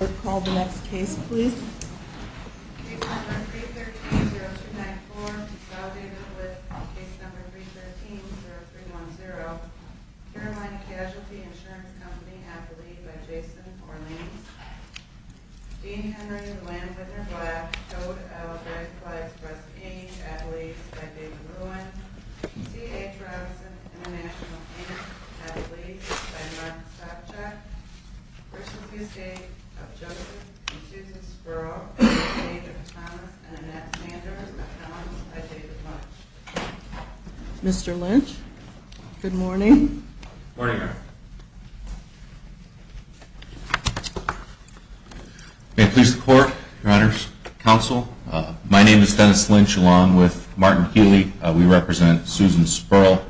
Case No. 313-0294, Validated with Case No. 313-0310, Carolina Casualty Insurance Company, Adelaide v. Jason Orleans, Dean Henry Lynn v. Black, Code L. Redflags v. Russ King, Adelaide v. David Lewin, C.A. Travis International, Adelaide v. Mark Stopchak, V.S.A. of Joseph and Susan Sperl, and the estate of Thomas and Annette Sanders, accounts by David Lynch. Mr. Lynch, good morning. Morning, Madam. May it please the Court, Your Honors, Counsel, my name is Dennis Lynch along with Martin Healy. We represent Susan Sperl.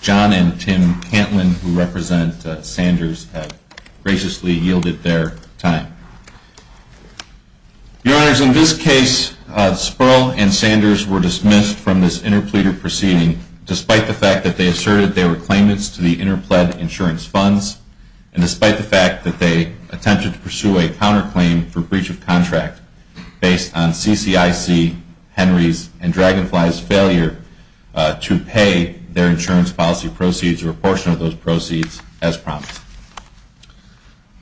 John and Tim Cantlin, who represent Sanders, have graciously yielded their time. Your Honors, in this case, Sperl and Sanders were dismissed from this interpleader proceeding despite the fact that they asserted they were claimants to the interpled insurance funds and despite the fact that they attempted to pursue a counterclaim for breach of contract based on CCIC, Henry's, and Dragonfly's failure to pay their insurance policy proceeds or a portion of those proceeds as promised.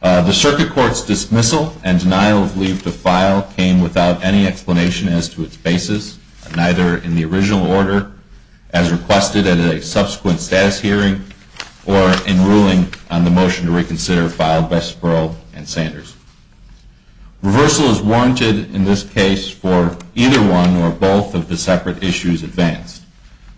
The Circuit Court's dismissal and denial of leave to file came without any explanation as to its basis, neither in the original order as requested at a subsequent status hearing or in ruling on the motion to reconsider filed by Sperl and Sanders. Reversal is warranted in this case for either one or both of the separate issues advanced.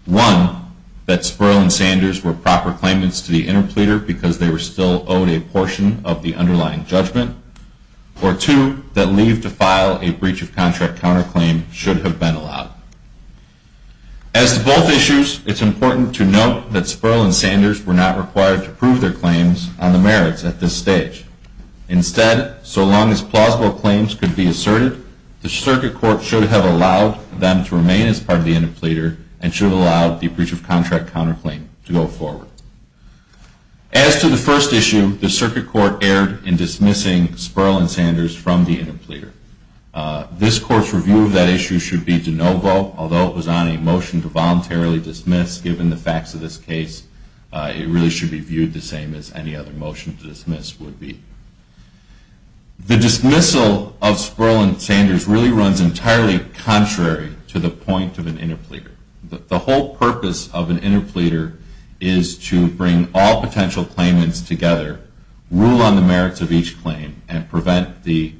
One, that Sperl and Sanders were proper claimants to the interpleader because they were still owed a portion of the underlying judgment, or two, that leave to file a breach of contract counterclaim should have been allowed. As to both issues, it is important to note that Sperl and Sanders were not required to prove their claims on the merits at this stage. Instead, so long as plausible claims could be asserted, the Circuit Court should have allowed them to remain as part of the interpleader and should have allowed the breach of contract counterclaim to go forward. As to the first issue, the Circuit Court erred in dismissing Sperl and Sanders from the interpleader. This Court's review of that issue should be de novo, although it was on a motion to voluntarily dismiss. Given the facts of this case, it really should be viewed the same as any other motion to dismiss would be. The dismissal of Sperl and Sanders really runs entirely contrary to the point of an interpleader. The whole purpose of an interpleader is to bring all potential claimants together, rule on the merits of each claim, and prevent the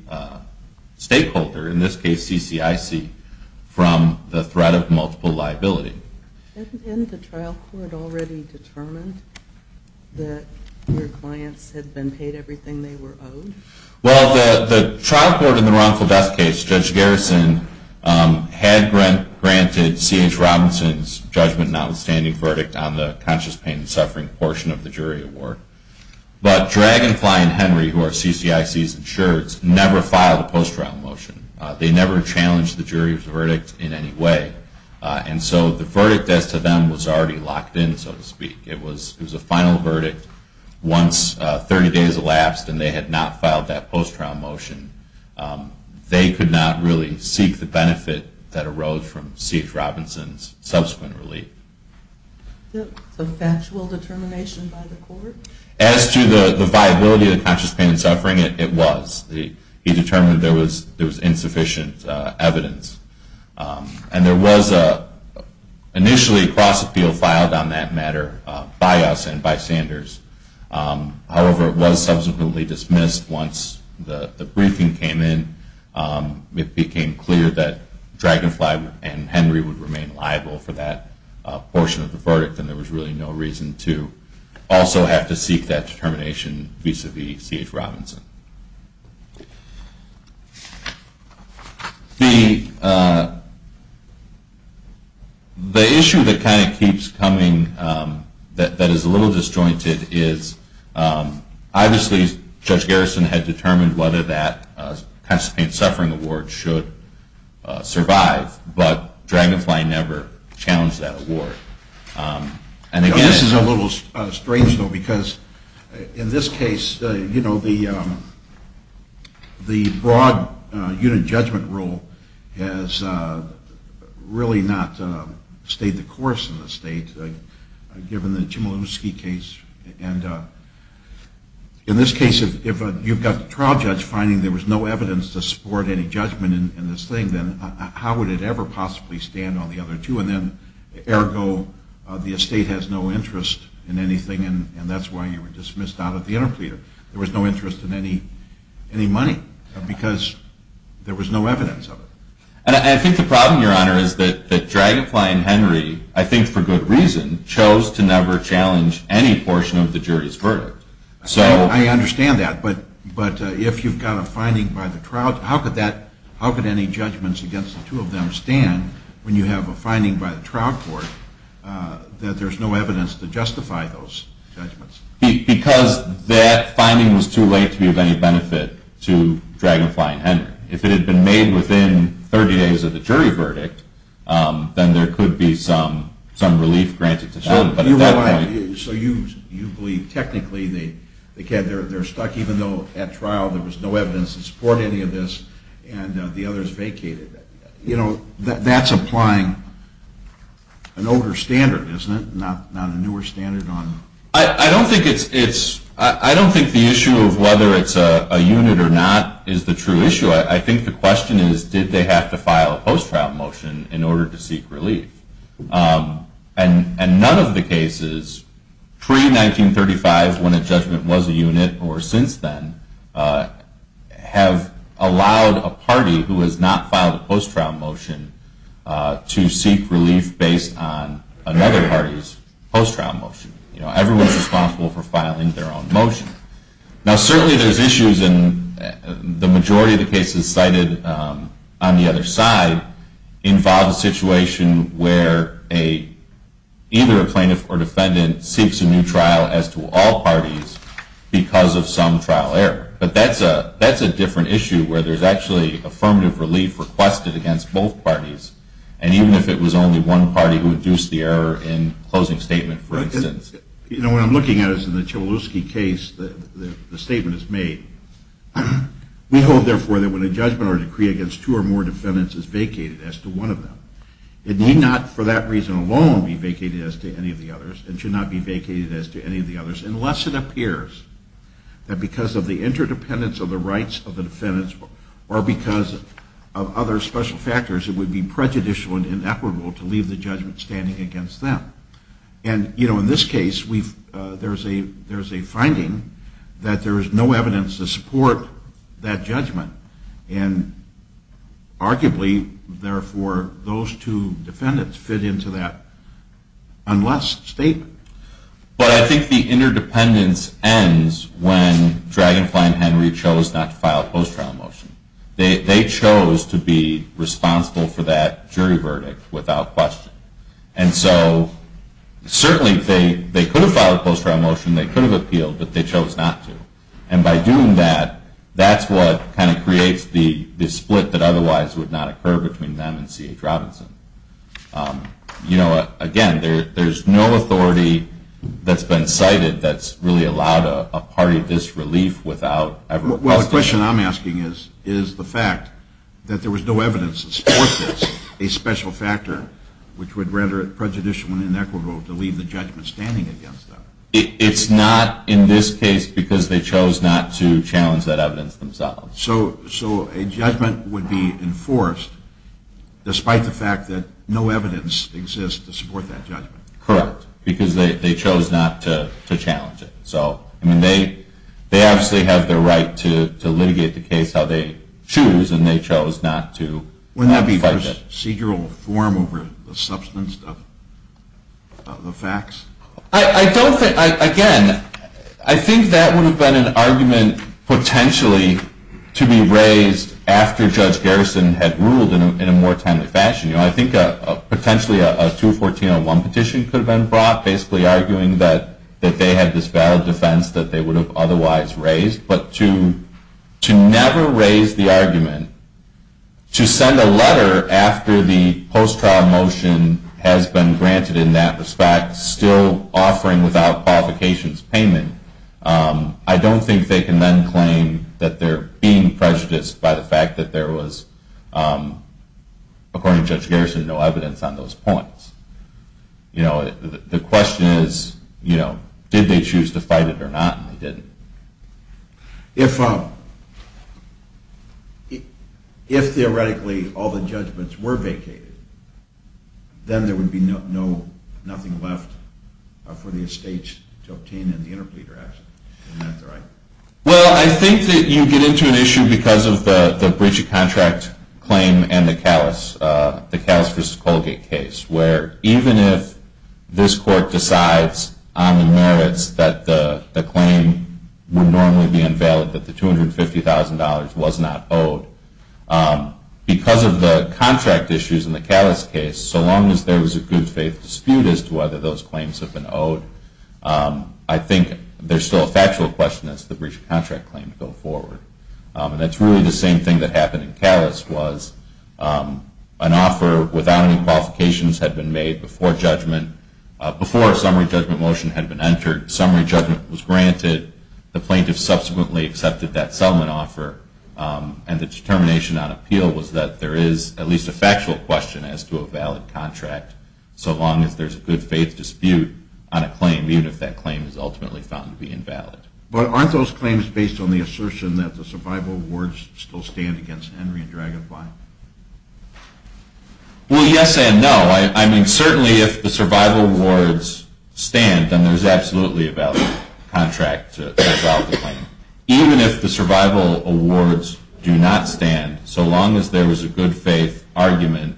stakeholder, in this case CCIC, from the threat of multiple liability. Hadn't the trial court already determined that your clients had been paid everything they were owed? Well, the trial court in the wrongful death case, Judge Garrison, had granted C.H. Robinson's judgment notwithstanding verdict on the conscious pain and suffering portion of the jury award. But Drag and Fly and Henry, who are CCIC's insurers, never filed a post-trial motion. They never challenged the jury's verdict in any way. And so the verdict as to them was already locked in, so to speak. It was a final verdict. Once 30 days elapsed and they had not filed that post-trial motion, they could not really seek the benefit that arose from C.H. Robinson's subsequent relief. Was it a factual determination by the court? As to the viability of the conscious pain and suffering, it was. He determined there was insufficient evidence. And there was initially a cross-appeal filed on that matter by us and by Sanders. However, it was subsequently dismissed once the briefing came in. It became clear that Drag and Fly and Henry would remain liable for that portion of the verdict, and there was really no reason to also have to seek that determination vis-à-vis C.H. Robinson. The issue that kind of keeps coming, that is a little disjointed, is obviously Judge Garrison had determined whether that conscious pain and suffering award should survive, but Drag and Fly never challenged that award. This is a little strange, though, because in this case, you know, the broad unit judgment rule has really not stayed the course in this state, given the Chmielewski case. And in this case, if you've got the trial judge finding there was no evidence to support any judgment in this thing, then how would it ever possibly stand on the other two? And then, ergo, the estate has no interest in anything, and that's why you were dismissed out of the interpleader. There was no interest in any money, because there was no evidence of it. And I think the problem, Your Honor, is that Drag and Fly and Henry, I think for good reason, chose to never challenge any portion of the jury's verdict. I understand that, but if you've got a finding by the trial judge, how could any judgments against the two of them stand when you have a finding by the trial court that there's no evidence to justify those judgments? Because that finding was too late to be of any benefit to Drag and Fly and Henry. If it had been made within 30 days of the jury verdict, then there could be some relief granted to them. So you believe technically they're stuck even though at trial there was no evidence to support any of this, and the others vacated. You know, that's applying an older standard, isn't it? Not a newer standard on... I don't think the issue of whether it's a unit or not is the true issue. I think the question is, did they have to file a post-trial motion in order to seek relief? And none of the cases pre-1935, when a judgment was a unit, or since then, have allowed a party who has not filed a post-trial motion to seek relief based on another party's post-trial motion. Everyone's responsible for filing their own motion. Now certainly there's issues, and the majority of the cases cited on the other side involve a situation where either a plaintiff or defendant seeks a new trial as to all parties because of some trial error. But that's a different issue where there's actually affirmative relief requested against both parties, and even if it was only one party who induced the error in closing statement, for instance. You know, what I'm looking at is in the Chmielewski case, the statement is made, we hold, therefore, that when a judgment or decree against two or more defendants is vacated as to one of them, it need not for that reason alone be vacated as to any of the others. It should not be vacated as to any of the others unless it appears that because of the interdependence of the rights of the defendants or because of other special factors, it would be prejudicial and inequitable to leave the judgment standing against them. And, you know, in this case, there's a finding that there is no evidence to support that judgment, and arguably, therefore, those two defendants fit into that unless statement. But I think the interdependence ends when Dragonfly and Henry chose not to file a post-trial motion. They chose to be responsible for that jury verdict without question. And so certainly they could have filed a post-trial motion, they could have appealed, but they chose not to. And by doing that, that's what kind of creates the split that otherwise would not occur between them and C.H. Robinson. You know, again, there's no authority that's been cited that's really allowed a party this relief without ever questioning it. Well, the question I'm asking is the fact that there was no evidence to support this, a special factor, which would render it prejudicial and inequitable to leave the judgment standing against them. It's not in this case because they chose not to challenge that evidence themselves. So a judgment would be enforced despite the fact that no evidence exists to support that judgment. Correct, because they chose not to challenge it. So, I mean, they obviously have the right to litigate the case how they choose, and they chose not to. Wouldn't that be procedural form over the substance of the facts? I don't think, again, I think that would have been an argument potentially to be raised after Judge Garrison had ruled in a more timely fashion. You know, I think potentially a 214.01 petition could have been brought, basically arguing that they had this valid defense that they would have otherwise raised. But to never raise the argument, to send a letter after the post-trial motion has been granted in that respect, still offering without qualifications payment, I don't think they can then claim that they're being prejudiced by the fact that there was, according to Judge Garrison, no evidence on those points. You know, the question is, you know, did they choose to fight it or not, and they didn't. If theoretically all the judgments were vacated, then there would be nothing left for the estates to obtain in the interpleader action, isn't that right? Well, I think that you get into an issue because of the breach of contract claim and the Callis, the Callis v. Colgate case, where even if this court decides on the merits that the claim would normally be invalid, that the $250,000 was not owed, because of the contract issues in the Callis case, so long as there was a good faith dispute as to whether those claims have been owed, I think there's still a factual question as to the breach of contract claim to go forward. And that's really the same thing that happened in Callis, was an offer without any qualifications had been made before judgment, before a summary judgment motion had been entered, summary judgment was granted, the plaintiff subsequently accepted that settlement offer, and the determination on appeal was that there is at least a factual question as to a valid contract, so long as there's a good faith dispute on a claim, even if that claim is ultimately found to be invalid. But aren't those claims based on the assertion that the survival awards still stand against Henry and Dragonfly? Well, yes and no. I mean, certainly if the survival awards stand, then there's absolutely a valid contract to file the claim. Even if the survival awards do not stand, so long as there was a good faith argument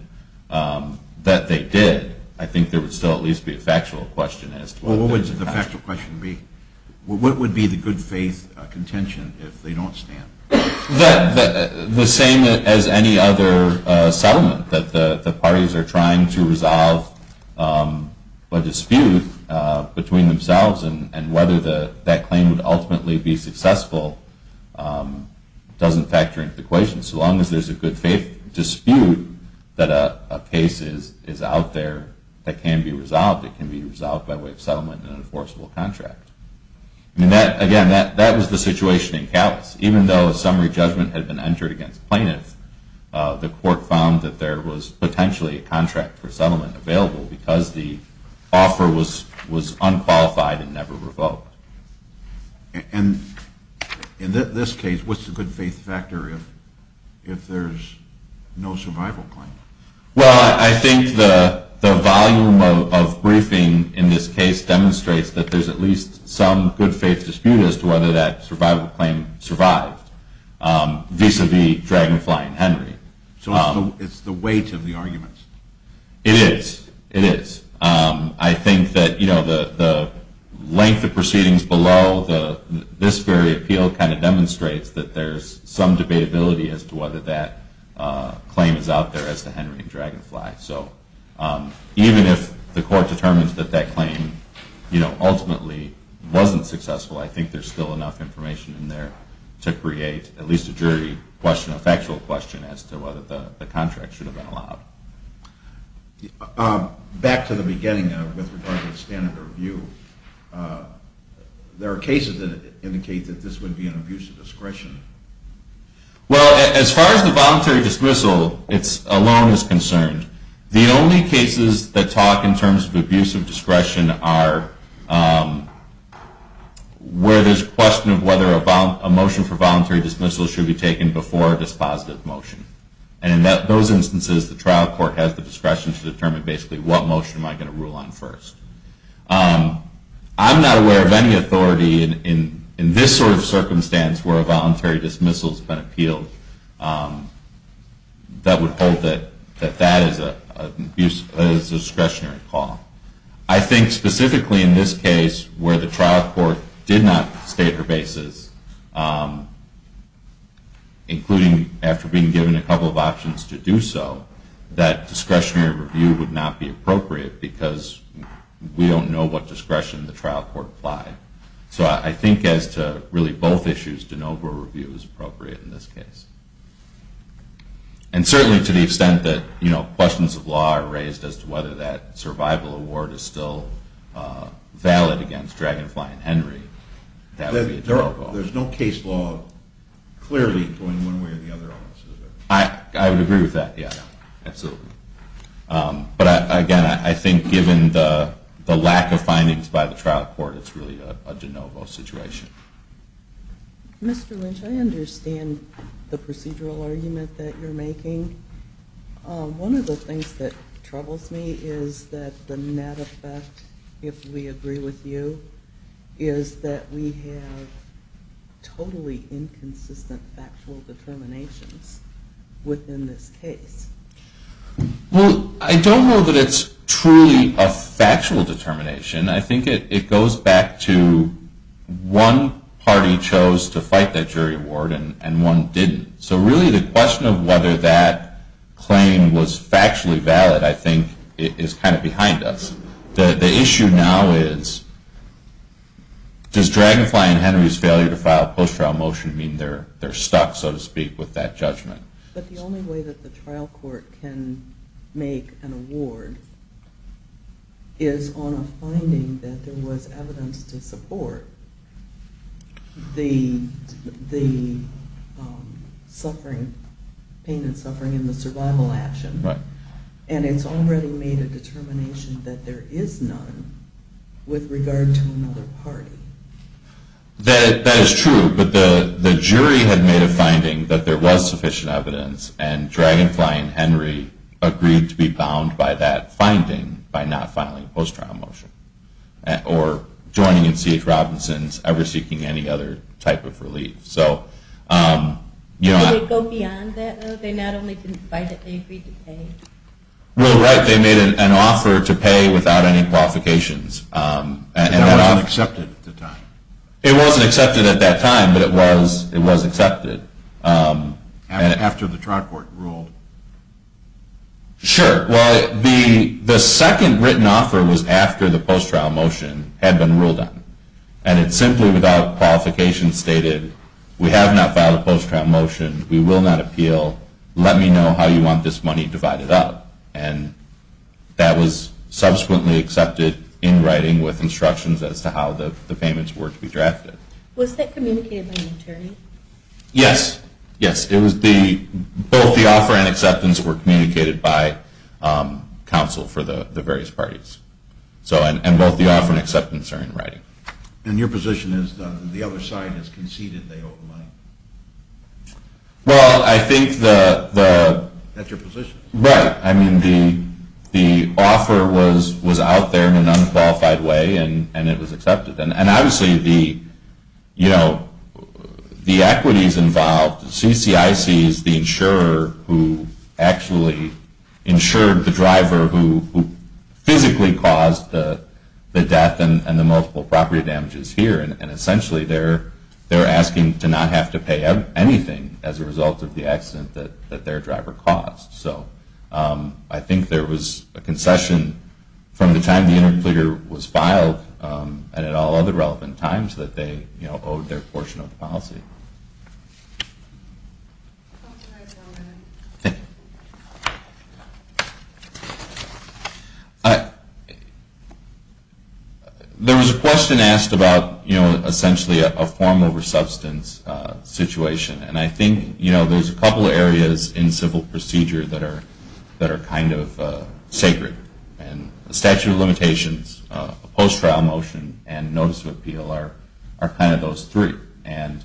that they did, I think there would still at least be a factual question. What would the factual question be? What would be the good faith contention if they don't stand? The same as any other settlement that the parties are trying to resolve a dispute between themselves, and whether that claim would ultimately be successful doesn't factor into the question, so long as there's a good faith dispute that a case is out there that can be resolved. It can be resolved by way of settlement in an enforceable contract. Again, that was the situation in Calis. Even though a summary judgment had been entered against plaintiffs, the court found that there was potentially a contract for settlement available because the offer was unqualified and never revoked. And in this case, what's the good faith factor if there's no survival claim? Well, I think the volume of briefing in this case demonstrates that there's at least some good faith dispute as to whether that survival claim survived, vis-a-vis Dragonfly and Henry. So it's the weight of the arguments? It is. It is. I think that the length of proceedings below this very appeal demonstrates that there's some debatability as to whether that claim is out there as to Henry and Dragonfly. So even if the court determines that that claim ultimately wasn't successful, I think there's still enough information in there to create at least a jury question, a factual question, as to whether the contract should have been allowed. Back to the beginning with regard to the standard of review, there are cases that indicate that this would be an abuse of discretion. Well, as far as the voluntary dismissal alone is concerned, the only cases that talk in terms of abuse of discretion are where there's a question of whether a motion for voluntary dismissal should be taken before a dispositive motion. And in those instances, the trial court has the discretion to determine basically what motion am I going to rule on first. I'm not aware of any authority in this sort of circumstance where a voluntary dismissal has been appealed that would hold that that is a discretionary call. I think specifically in this case where the trial court did not state her basis, including after being given a couple of options to do so, that discretionary review would not be appropriate because we don't know what discretion the trial court applied. So I think as to really both issues, de novo review is appropriate in this case. And certainly to the extent that questions of law are raised as to whether that survival award is still valid against Dragonfly and Henry, that would be a terrible offer. There's no case law clearly going one way or the other on this, is there? I would agree with that. Yeah, absolutely. But again, I think given the lack of findings by the trial court, it's really a de novo situation. Mr. Lynch, I understand the procedural argument that you're making. One of the things that troubles me is that the net effect, if we agree with you, is that we have totally inconsistent factual determinations within this case. Well, I don't know that it's truly a factual determination. I think it goes back to one party chose to fight that jury award and one didn't. So really the question of whether that claim was factually valid, I think, is kind of behind us. The issue now is, does Dragonfly and Henry's failure to file a post-trial motion mean they're stuck, so to speak, with that judgment? But the only way that the trial court can make an award is on a finding that there was evidence to support the pain and suffering in the survival action. And it's already made a determination that there is none with regard to another party. That is true, but the jury had made a finding that there was sufficient evidence and Dragonfly and Henry agreed to be bound by that finding by not filing a post-trial motion. Or joining in C.H. Robinson's ever-seeking any other type of relief. Did they go beyond that, though? They not only didn't fight it, they agreed to pay? Well, right, they made an offer to pay without any qualifications. It wasn't accepted at the time? It wasn't accepted at that time, but it was accepted. After the trial court ruled? Sure. Well, the second written offer was after the post-trial motion had been ruled on. And it simply, without qualification, stated, we have not filed a post-trial motion, we will not appeal, let me know how you want this money divided up. And that was subsequently accepted in writing with instructions as to how the payments were to be drafted. Was that communicated by an attorney? Yes, yes. Both the offer and acceptance were communicated by counsel for the various parties. And both the offer and acceptance are in writing. And your position is that the other side has conceded they owe the money? Well, I think the… That's your position? Right. I mean, the offer was out there in an unqualified way, and it was accepted. And obviously the, you know, the equities involved, CCIC is the insurer who actually insured the driver who physically caused the death and the multiple property damages here. And essentially they're asking to not have to pay anything as a result of the accident that their driver caused. So I think there was a concession from the time the interpreter was filed and at all other relevant times that they, you know, owed their portion of the policy. Thank you. There was a question asked about, you know, essentially a form over substance situation. And I think, you know, there's a couple areas in civil procedure that are kind of sacred. And statute of limitations, post-trial motion, and notice of appeal are kind of those three. And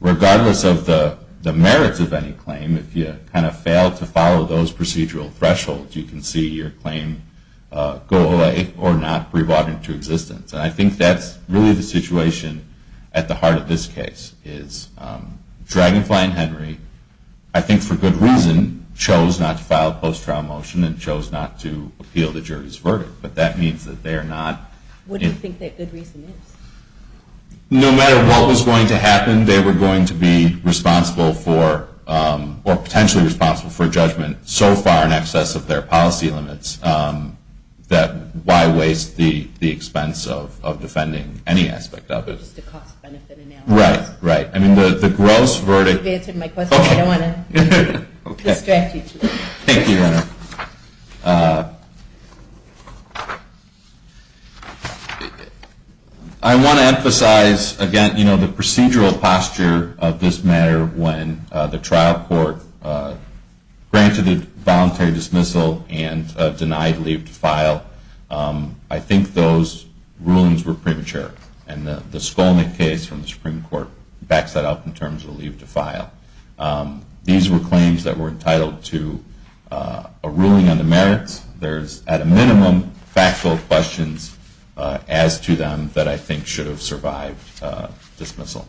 regardless of the merits of any claim, if you kind of fail to follow those procedural thresholds, you can see your claim go away or not be brought into existence. And I think that's really the situation at the heart of this case is Dragonfly and Henry, I think for good reason, chose not to file a post-trial motion and chose not to appeal the jury's verdict. But that means that they are not… What do you think that good reason is? No matter what was going to happen, they were going to be responsible for or potentially responsible for judgment so far in excess of their policy limits that why waste the expense of defending any aspect of it? Just a cost-benefit analysis. Right, right. I mean, the gross verdict… You've answered my question. Okay. I don't want to distract you too much. Thank you, Your Honor. I want to emphasize, again, the procedural posture of this matter when the trial court granted a voluntary dismissal and denied leave to file. I think those rulings were premature. And the Skolnik case from the Supreme Court backs that up in terms of leave to file. These were claims that were entitled to a ruling on the merits. There's, at a minimum, factual questions as to them that I think should have survived dismissal.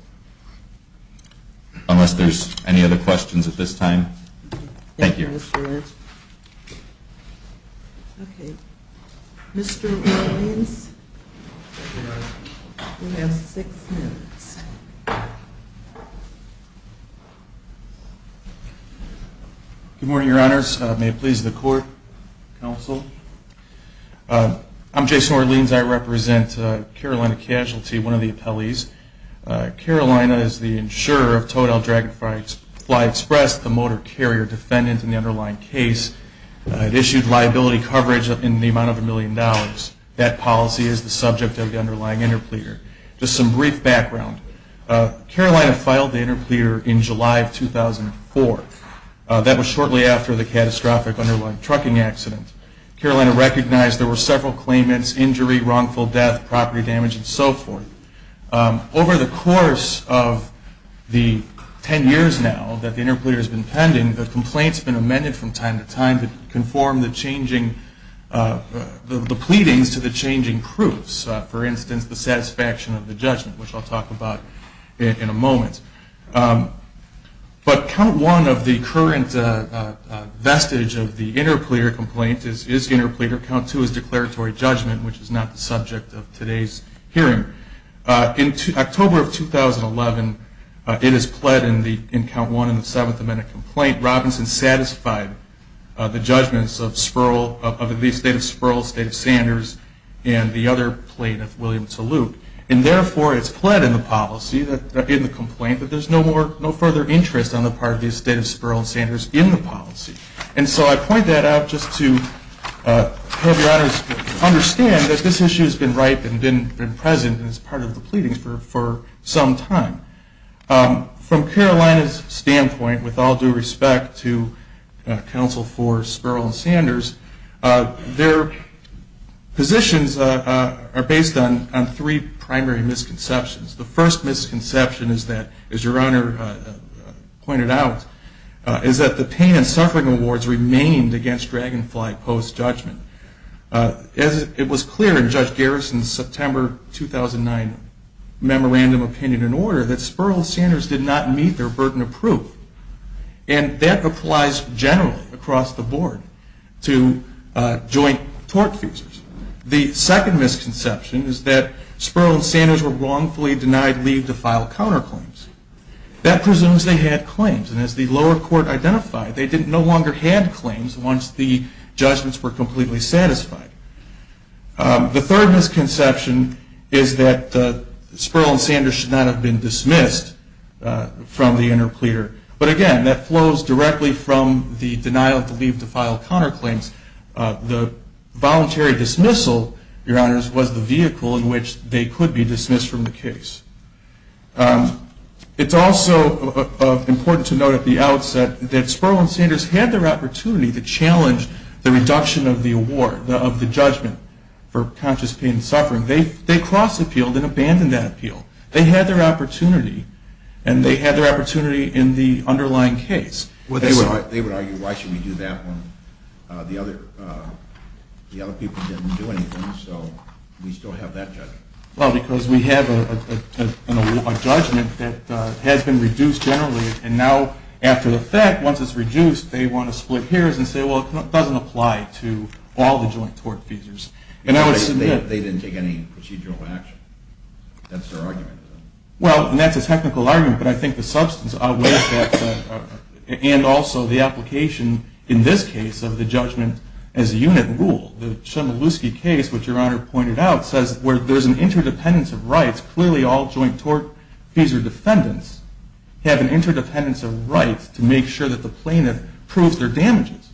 Unless there's any other questions at this time? Thank you. Mr. Williams, you have six minutes. Good morning, Your Honors. May it please the court, counsel. I'm Jason Orleans. I represent Carolina Casualty, one of the appellees. Carolina is the insurer of Total Dragonfly Express, the motor carrier defendant in the underlying case. It issued liability coverage in the amount of a million dollars. That policy is the subject of the underlying interpleader. Just some brief background. Carolina filed the interpleader in July of 2004. That was shortly after the catastrophic underlying trucking accident. Carolina recognized there were several claimants, injury, wrongful death, property damage, and so forth. Over the course of the ten years now that the interpleader has been pending, the complaints have been amended from time to time to conform the pleadings to the changing proofs, for instance, the satisfaction of the judgment, which I'll talk about in a moment. But Count 1 of the current vestige of the interpleader complaint is interpleader. Count 2 is declaratory judgment, which is not the subject of today's hearing. In October of 2011, it is pled in Count 1 in the Seventh Amendment complaint. Count Robinson satisfied the judgments of the State of Spurl, State of Sanders, and the other plaintiff, William Salute. And therefore, it's pled in the policy, in the complaint, that there's no further interest on the part of the State of Spurl and Sanders in the policy. And so I point that out just to have your honors understand that this issue has been ripe and been present as part of the pleadings for some time. From Carolina's standpoint, with all due respect to counsel for Spurl and Sanders, their positions are based on three primary misconceptions. The first misconception is that, as your honor pointed out, is that the pain and suffering awards remained against Dragonfly post-judgment. As it was clear in Judge Garrison's September 2009 memorandum opinion and order, that Spurl and Sanders did not meet their burden of proof. And that applies generally across the board to joint tort feasors. The second misconception is that Spurl and Sanders were wrongfully denied leave to file counterclaims. That presumes they had claims. And as the lower court identified, they no longer had claims once the judgments were completely satisfied. The third misconception is that Spurl and Sanders should not have been dismissed from the interpleader. But again, that flows directly from the denial of leave to file counterclaims. The voluntary dismissal, your honors, was the vehicle in which they could be dismissed from the case. It's also important to note at the outset that Spurl and Sanders had their opportunity to challenge the reduction of the award, of the judgment for conscious pain and suffering. They cross-appealed and abandoned that appeal. They had their opportunity, and they had their opportunity in the underlying case. They would argue, why should we do that when the other people didn't do anything, so we still have that judgment. Well, because we have a judgment that has been reduced generally, and now after the fact, once it's reduced, they want to split hairs and say, well, it doesn't apply to all the joint tort feasors. They didn't take any procedural action. That's their argument. Well, and that's a technical argument, but I think the substance outweighs that, and also the application in this case of the judgment as a unit rule. The Chmielewski case, which your honor pointed out, says where there's an interdependence of rights, clearly all joint tort feasor defendants have an interdependence of rights to make sure that the plaintiff proves their damages.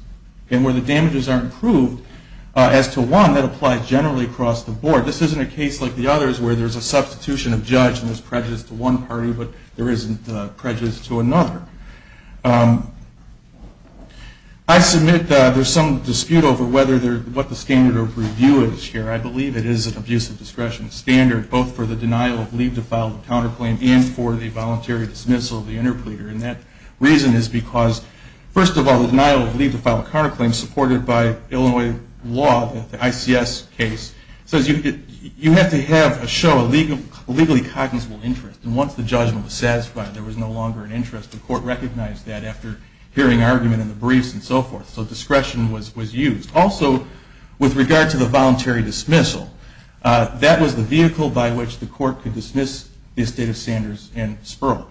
And where the damages aren't proved as to one, that applies generally across the board. This isn't a case like the others where there's a substitution of judge and there's prejudice to one party, but there isn't prejudice to another. I submit there's some dispute over what the standard of review is here. I believe it is an abusive discretion standard, both for the denial of leave to file a counterclaim and for the voluntary dismissal of the interpleader. And that reason is because, first of all, the denial of leave to file a counterclaim supported by Illinois law, the ICS case, says you have to have a show of legally cognizant interest. And once the judgment was satisfied, there was no longer an interest. The court recognized that after hearing argument in the briefs and so forth. So discretion was used. Also, with regard to the voluntary dismissal, that was the vehicle by which the court could dismiss the estate of Sanders and Sperl.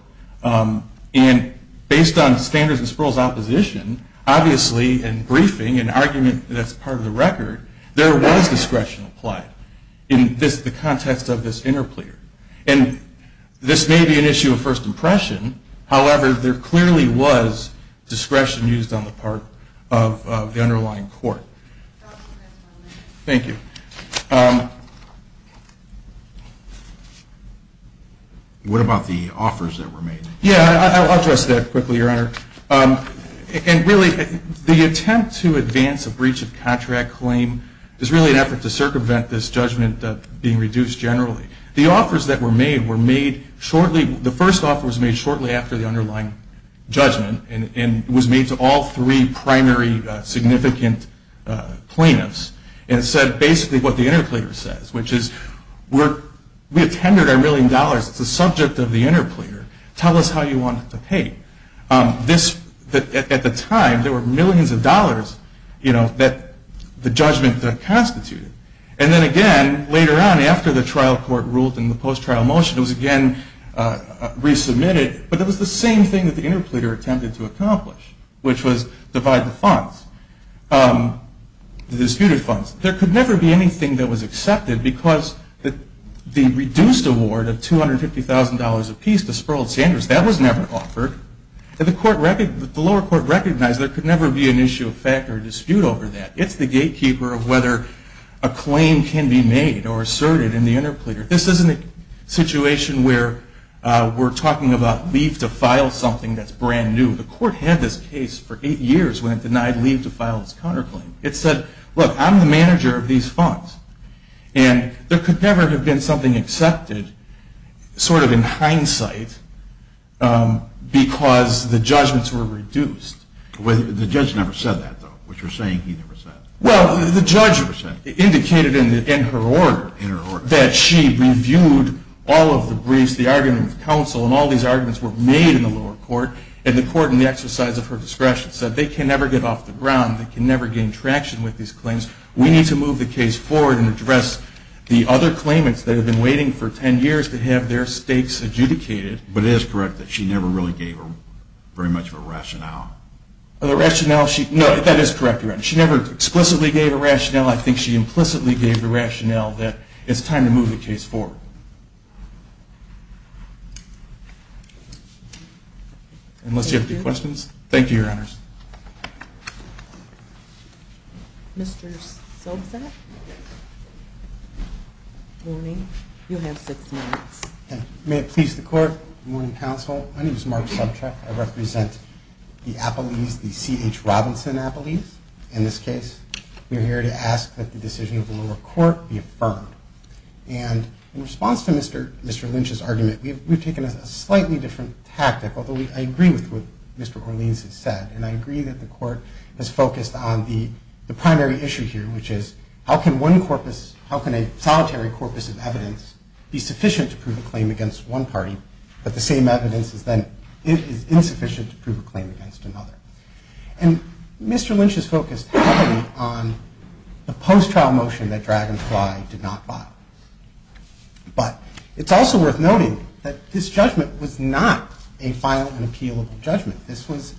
And based on Sanders and Sperl's opposition, obviously in briefing and argument that's part of the record, there was discretion applied in the context of this interpleader. And this may be an issue of first impression. However, there clearly was discretion used on the part of the underlying court. Thank you. What about the offers that were made? Yeah, I'll address that quickly, Your Honor. And really, the attempt to advance a breach of contract claim is really an effort to circumvent this judgment being reduced generally. The offers that were made were made shortly, the first offer was made shortly after the underlying judgment and was made to all three primary significant plaintiffs and said basically what the interpleader says, which is we have tendered our million dollars. It's the subject of the interpleader. Tell us how you want it to pay. At the time, there were millions of dollars that the judgment constituted. And then again, later on, after the trial court ruled in the post-trial motion, it was again resubmitted, but it was the same thing that the interpleader attempted to accomplish, which was divide the funds, the disputed funds. There could never be anything that was accepted because the reduced award of $250,000 apiece to Sperl Sanders, that was never offered. The lower court recognized there could never be an issue of fact or dispute over that. It's the gatekeeper of whether a claim can be made or asserted in the interpleader. This isn't a situation where we're talking about leave to file something that's brand new. The court had this case for eight years when it denied leave to file this counterclaim. It said, look, I'm the manager of these funds, and there could never have been something accepted sort of in hindsight because the judgments were reduced. The judge never said that, though, which you're saying he never said. Well, the judge indicated in her order that she reviewed all of the briefs, the argument with counsel, and all these arguments were made in the lower court, and the court, in the exercise of her discretion, said they can never get off the ground. They can never gain traction with these claims. We need to move the case forward and address the other claimants that have been waiting for 10 years to have their stakes adjudicated. But it is correct that she never really gave her very much of a rationale. Oh, the rationale? No, that is correct, Your Honor. She never explicitly gave a rationale. I think she implicitly gave the rationale that it's time to move the case forward. Unless you have any questions. Thank you, Your Honors. Mr. Sobczak? Good morning. You have six minutes. May it please the court, good morning, counsel. My name is Mark Sobczak. I represent the Appellees, the C.H. Robinson Appellees. In this case, we're here to ask that the decision of the lower court be affirmed. And in response to Mr. Lynch's argument, we've taken a slightly different tactic, although I agree with what Mr. Orleans has said, and I agree that the court has focused on the primary issue here, which is how can one corpus, how can a solitary corpus of evidence, be sufficient to prove a claim against one party, but the same evidence is then insufficient to prove a claim against another. And Mr. Lynch has focused heavily on the post-trial motion that Dragonfly did not file. But it's also worth noting that this judgment was not a final and appealable judgment. This was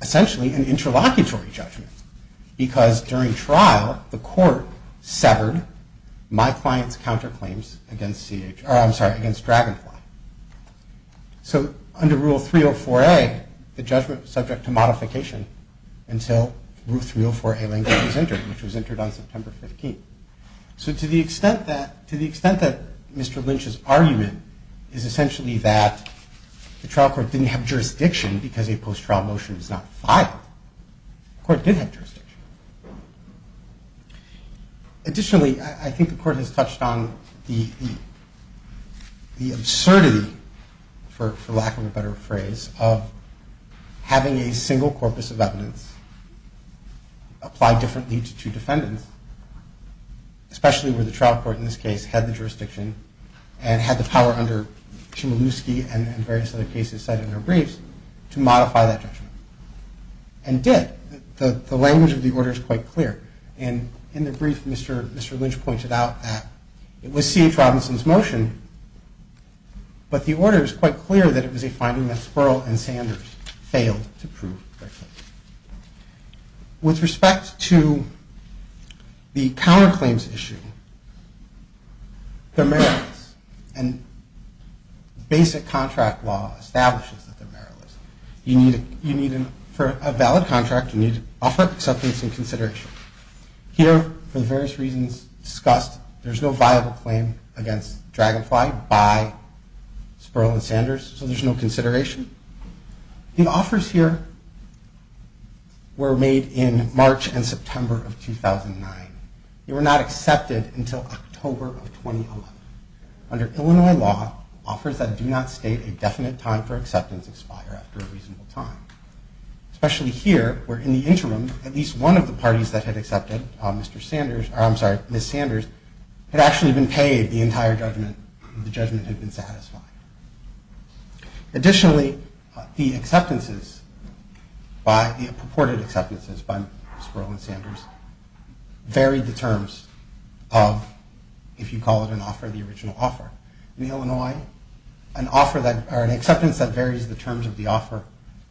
essentially an interlocutory judgment, because during trial, the court severed my client's counterclaims against C.H., or I'm sorry, against Dragonfly. So under Rule 304A, the judgment was subject to modification until Rule 304A language was entered, which was entered on September 15th. So to the extent that Mr. Lynch's argument is essentially that the trial court didn't have jurisdiction because a post-trial motion was not filed, the court did have jurisdiction. Additionally, I think the court has touched on the absurdity, for lack of a better phrase, of having a single corpus of evidence apply differently to two defendants, especially where the trial court in this case had the jurisdiction and had the power under Chmielewski and various other cases cited in our briefs to modify that judgment, and did. The language of the order is quite clear. And in the brief, Mr. Lynch pointed out that it was C.H. Robinson's motion, but the order is quite clear that it was a finding that Spurl and Sanders failed to prove. With respect to the counterclaims issue, they're meritless. And basic contract law establishes that they're meritless. For a valid contract, you need to offer acceptance and consideration. Here, for the various reasons discussed, there's no viable claim against Dragonfly by Spurl and Sanders, so there's no consideration. The offers here were made in March and September of 2009. They were not accepted until October of 2011. Under Illinois law, offers that do not state a definite time for acceptance expire after a reasonable time, especially here, where in the interim, at least one of the parties that had accepted, Ms. Sanders, had actually been paid the entire judgment, and the judgment had been satisfied. Additionally, the acceptances, the purported acceptances by Spurl and Sanders varied the terms of, if you call it an offer, the original offer. In Illinois, an acceptance that varies the terms of the offer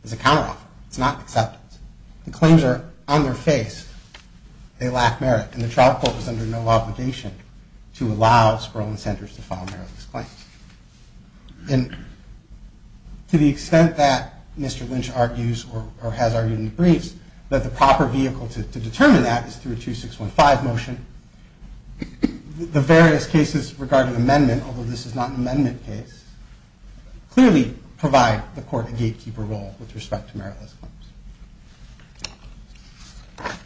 is a counteroffer. It's not acceptance. The claims are on their face. They lack merit, and the trial court was under no obligation to allow Spurl and Sanders to file meritless claims. And to the extent that Mr. Lynch argues or has argued in the briefs that the proper vehicle to determine that is through a 2615 motion, the various cases regarding amendment, although this is not an amendment case, clearly provide the court a gatekeeper role with respect to meritless claims.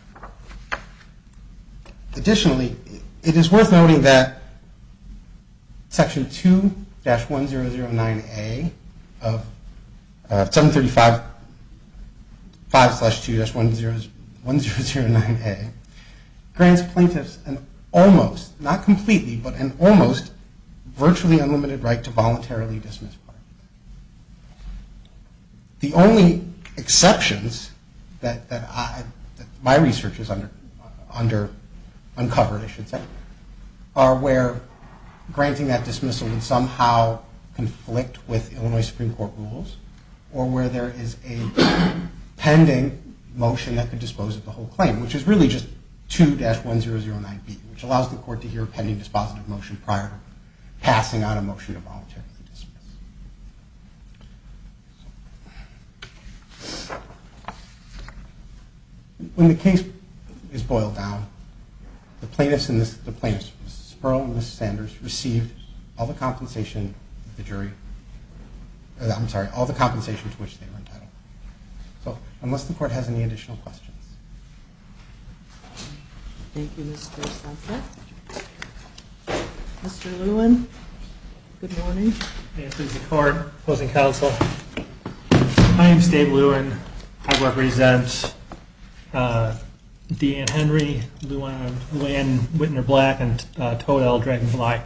Additionally, it is worth noting that Section 2-1009A of 735.5-2-1009A grants plaintiffs an almost, not completely, but an almost virtually unlimited right to voluntarily dismiss. The only exceptions that my research has uncovered, I should say, are where granting that dismissal would somehow conflict with Illinois Supreme Court rules or where there is a pending motion that could dispose of the whole claim, which is really just 2-1009B, which allows the court to hear a pending dispositive motion prior to passing on a motion to voluntarily dismiss. When the case is boiled down, the plaintiffs, Spurl and Sanders, received all the compensation to which they were entitled. So, unless the court has any additional questions. Mr. Lewin, good morning. My name is Dave Lewin. I represent Deanne Henry, Lou Anne Whitner-Black, and Toadelle Dragonfly.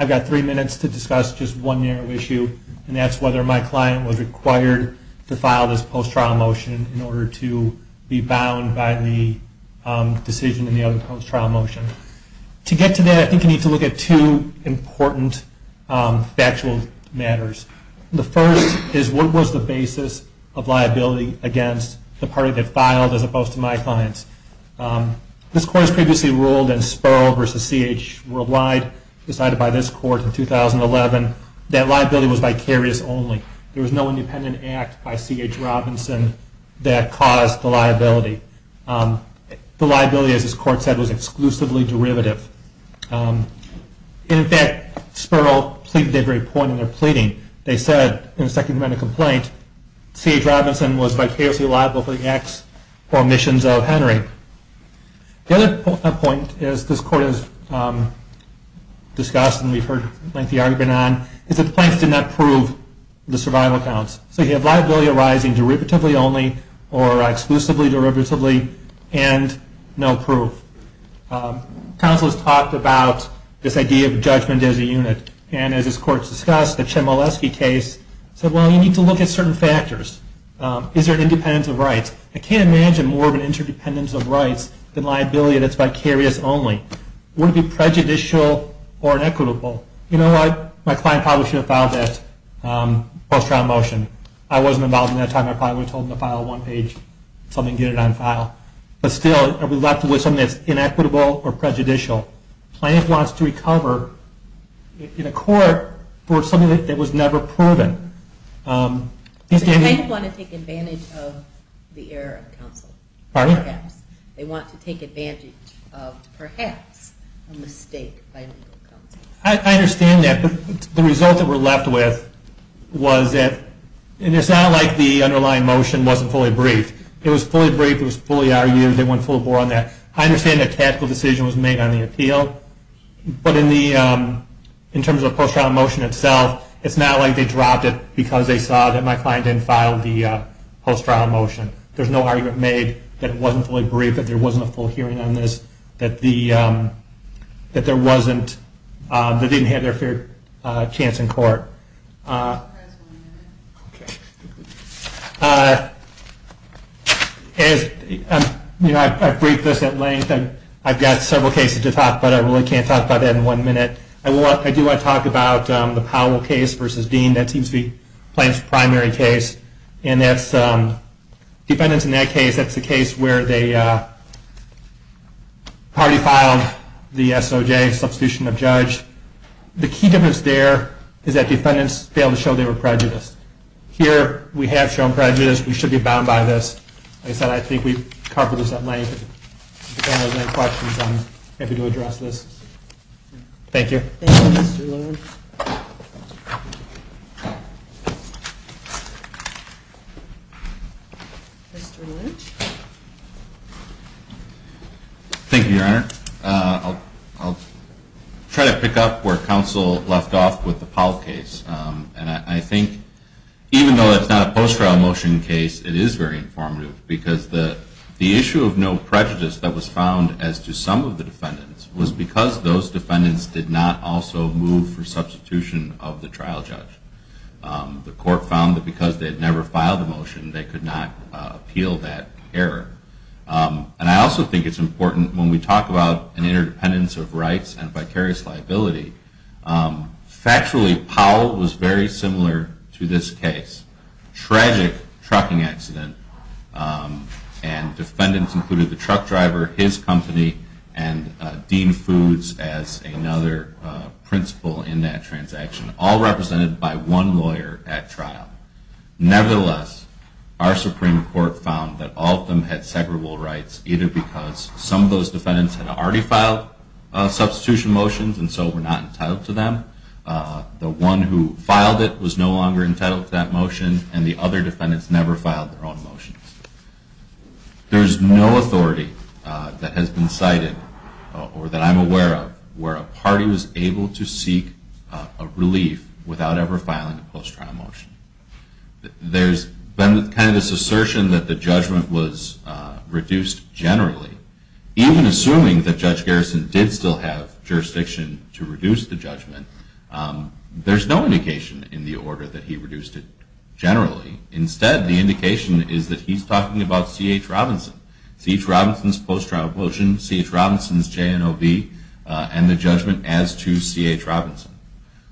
I've got three minutes to discuss just one narrow issue, and that's whether my client was required to file this post-trial motion in order to be bound by the decision in the other post-trial motion. To get to that, I think you need to look at two important factual matters. The first is what was the basis of liability against the party that filed as opposed to my clients. This court has previously ruled in Spurl v. C.H. Worldwide, decided by this court in 2011, that liability was vicarious only. There was no independent act by C.H. Robinson that caused the liability. The liability, as this court said, was exclusively derivative. In fact, Spurl did a great point in their pleading. They said, in the second amendment complaint, C.H. Robinson was vicariously liable for the acts or omissions of Henry. The other point, as this court has discussed and we've heard lengthy argument on, is that the plaintiffs did not prove the survival counts. So you have liability arising derivatively only, or exclusively derivatively, and no proof. Counsel has talked about this idea of judgment as a unit, and as this court has discussed, the Chmielewski case said, well, you need to look at certain factors. Is there an independence of rights? I can't imagine more of an interdependence of rights than liability that's vicarious only. Would it be prejudicial or inequitable? You know what, my client probably should have filed that post-trial motion. I wasn't involved in that time. I probably would have told them to file a one-page, something get it on file. But still, are we left with something that's inequitable or prejudicial? The plaintiff wants to recover in a court for something that was never proven. The plaintiff wants to take advantage of the error of counsel. Pardon me? They want to take advantage of, perhaps, a mistake by legal counsel. I understand that. But the result that we're left with was that, and it's not like the underlying motion wasn't fully briefed. It was fully briefed. It was fully argued. They went full bore on that. I understand that a tactical decision was made on the appeal. But in terms of the post-trial motion itself, it's not like they dropped it because they saw that my client didn't file the post-trial motion. There's no argument made that it wasn't fully briefed, that there wasn't a full hearing on this, that they didn't have their fair chance in court. I've briefed this at length. I've got several cases to talk about. I really can't talk about that in one minute. I do want to talk about the Powell case versus Dean. That seems to be the plaintiff's primary case. Defendants in that case, that's the case where the party filed the SOJ, substitution of judge. The key difference there is that defendants failed to show they were prejudiced. Here, we have shown prejudice. We should be bound by this. Like I said, I think we've covered this at length. If anyone has any questions, I'm happy to address this. Thank you. Thank you, Your Honor. Thank you. Thank you, Your Honor. I'll try to pick up where counsel left off with the Powell case. And I think even though it's not a post-trial motion case, it is very informative because the issue of no prejudice that was found as to some of the defendants was because those defendants did not also move for substitution of the trial judge. The court found that because they had never filed a motion, they could not appeal that error. And I also think it's important when we talk about an interdependence of rights and vicarious liability, factually, Powell was very similar to this case. It was a tragic trucking accident, and defendants included the truck driver, his company, and Dean Foods as another principal in that transaction, all represented by one lawyer at trial. Nevertheless, our Supreme Court found that all of them had separable rights, either because some of those defendants had already filed substitution motions, and so were not entitled to them. The one who filed it was no longer entitled to that motion, and the other defendants never filed their own motions. There is no authority that has been cited, or that I'm aware of, where a party was able to seek a relief without ever filing a post-trial motion. There's been kind of this assertion that the judgment was reduced generally. Even assuming that Judge Garrison did still have jurisdiction to reduce the judgment, there's no indication in the order that he reduced it generally. Instead, the indication is that he's talking about C.H. Robinson. C.H. Robinson's post-trial motion, C.H. Robinson's JNOB, and the judgment as to C.H. Robinson.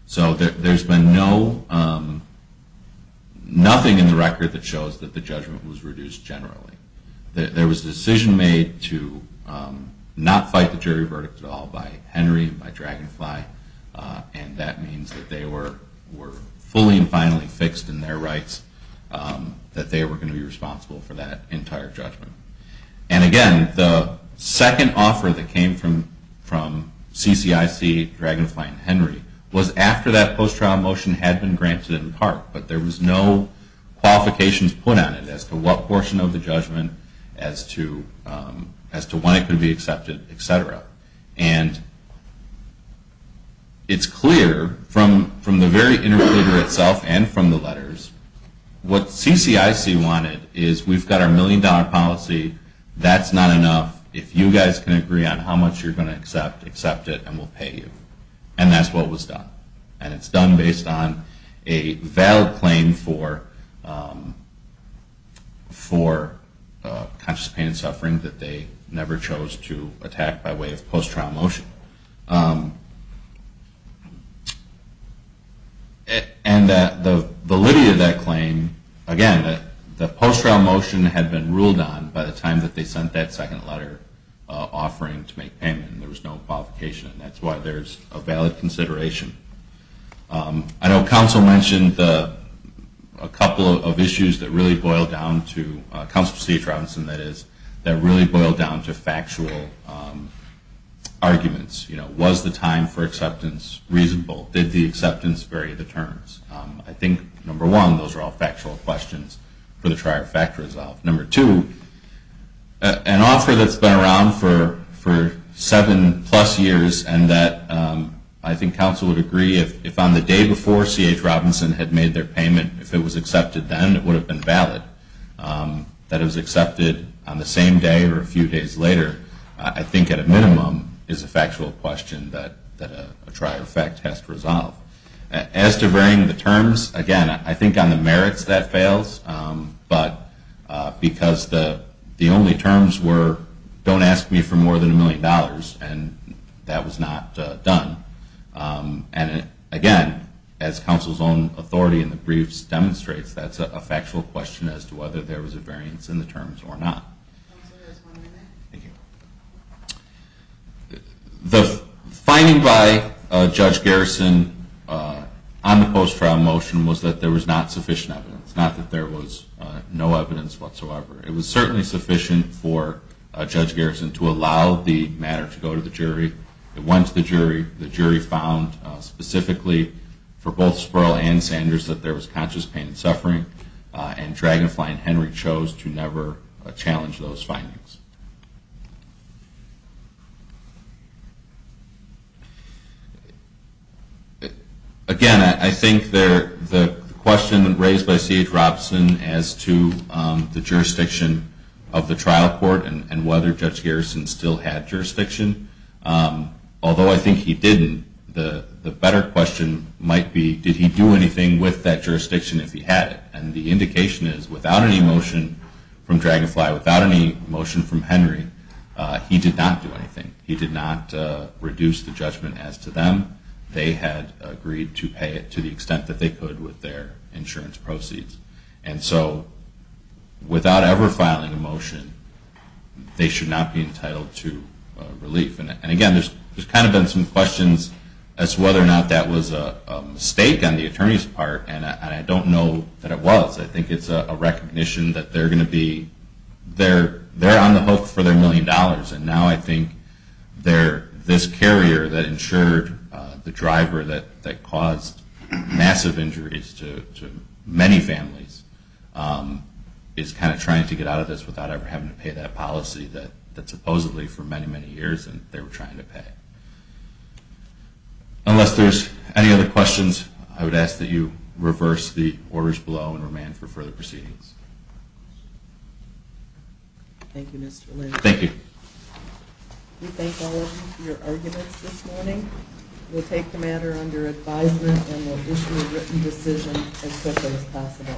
So there's been nothing in the record that shows that the judgment was reduced generally. There was a decision made to not fight the jury verdict at all by Henry and by Dragonfly, and that means that they were fully and finally fixed in their rights, that they were going to be responsible for that entire judgment. And again, the second offer that came from CCIC, Dragonfly, and Henry was after that post-trial motion had been granted in part, but there was no qualifications put on it as to what portion of the judgment, as to when it could be accepted, et cetera. And it's clear from the very interpreter itself and from the letters, what CCIC wanted is we've got our million-dollar policy. That's not enough. If you guys can agree on how much you're going to accept, accept it, and we'll pay you. And that's what was done. And it's done based on a valid claim for conscious pain and suffering that they never chose to attack by way of post-trial motion. And the liberty of that claim, again, the post-trial motion had been ruled on by the time that they sent that second letter offering to make payment, and there was no qualification. And that's why there's a valid consideration. I know Council mentioned a couple of issues that really boil down to, Council Chief Robinson, that is, that really boil down to factual arguments. You know, was the time for acceptance reasonable? Did the acceptance vary the terms? I think, number one, those are all factual questions for the trial to fact-resolve. Number two, an offer that's been around for seven-plus years and that I think Council would agree if on the day before C.H. Robinson had made their payment, if it was accepted then, it would have been valid. That it was accepted on the same day or a few days later, I think, at a minimum, is a factual question that a trial to fact has to resolve. As to varying the terms, again, I think on the merits that fails, but because the only terms were, don't ask me for more than a million dollars, and that was not done. And, again, as Council's own authority in the briefs demonstrates, that's a factual question as to whether there was a variance in the terms or not. The finding by Judge Garrison on the post-trial motion was that there was not sufficient evidence, not that there was no evidence whatsoever. It was certainly sufficient for Judge Garrison to allow the matter to go to the jury. It went to the jury. The jury found specifically for both Spurl and Sanders that there was conscious pain and suffering, and Dragonfly and Henry chose to never challenge those findings. Again, I think the question raised by CH Robson as to the jurisdiction of the trial court and whether Judge Garrison still had jurisdiction, although I think he didn't, the better question might be, did he do anything with that jurisdiction if he had it? And the indication is, without any motion from Dragonfly, without any motion from Spurl, without any motion from Henry, he did not do anything. He did not reduce the judgment as to them. They had agreed to pay it to the extent that they could with their insurance proceeds. And so without ever filing a motion, they should not be entitled to relief. And, again, there's kind of been some questions as to whether or not that was a mistake on the attorney's part, and I don't know that it was. I think it's a recognition that they're going to be, they're on the hook for their million dollars, and now I think this carrier that insured the driver that caused massive injuries to many families is kind of trying to get out of this without ever having to pay that policy that supposedly for many, many years they were trying to pay. Unless there's any other questions, I would ask that you reverse the orders below and remand for further proceedings. Thank you, Mr. Lynch. Thank you. We thank all of you for your arguments this morning. We'll take the matter under advisement and we'll issue a written decision as quickly as possible.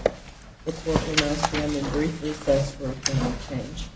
The court will now stand in brief recess for a point of change.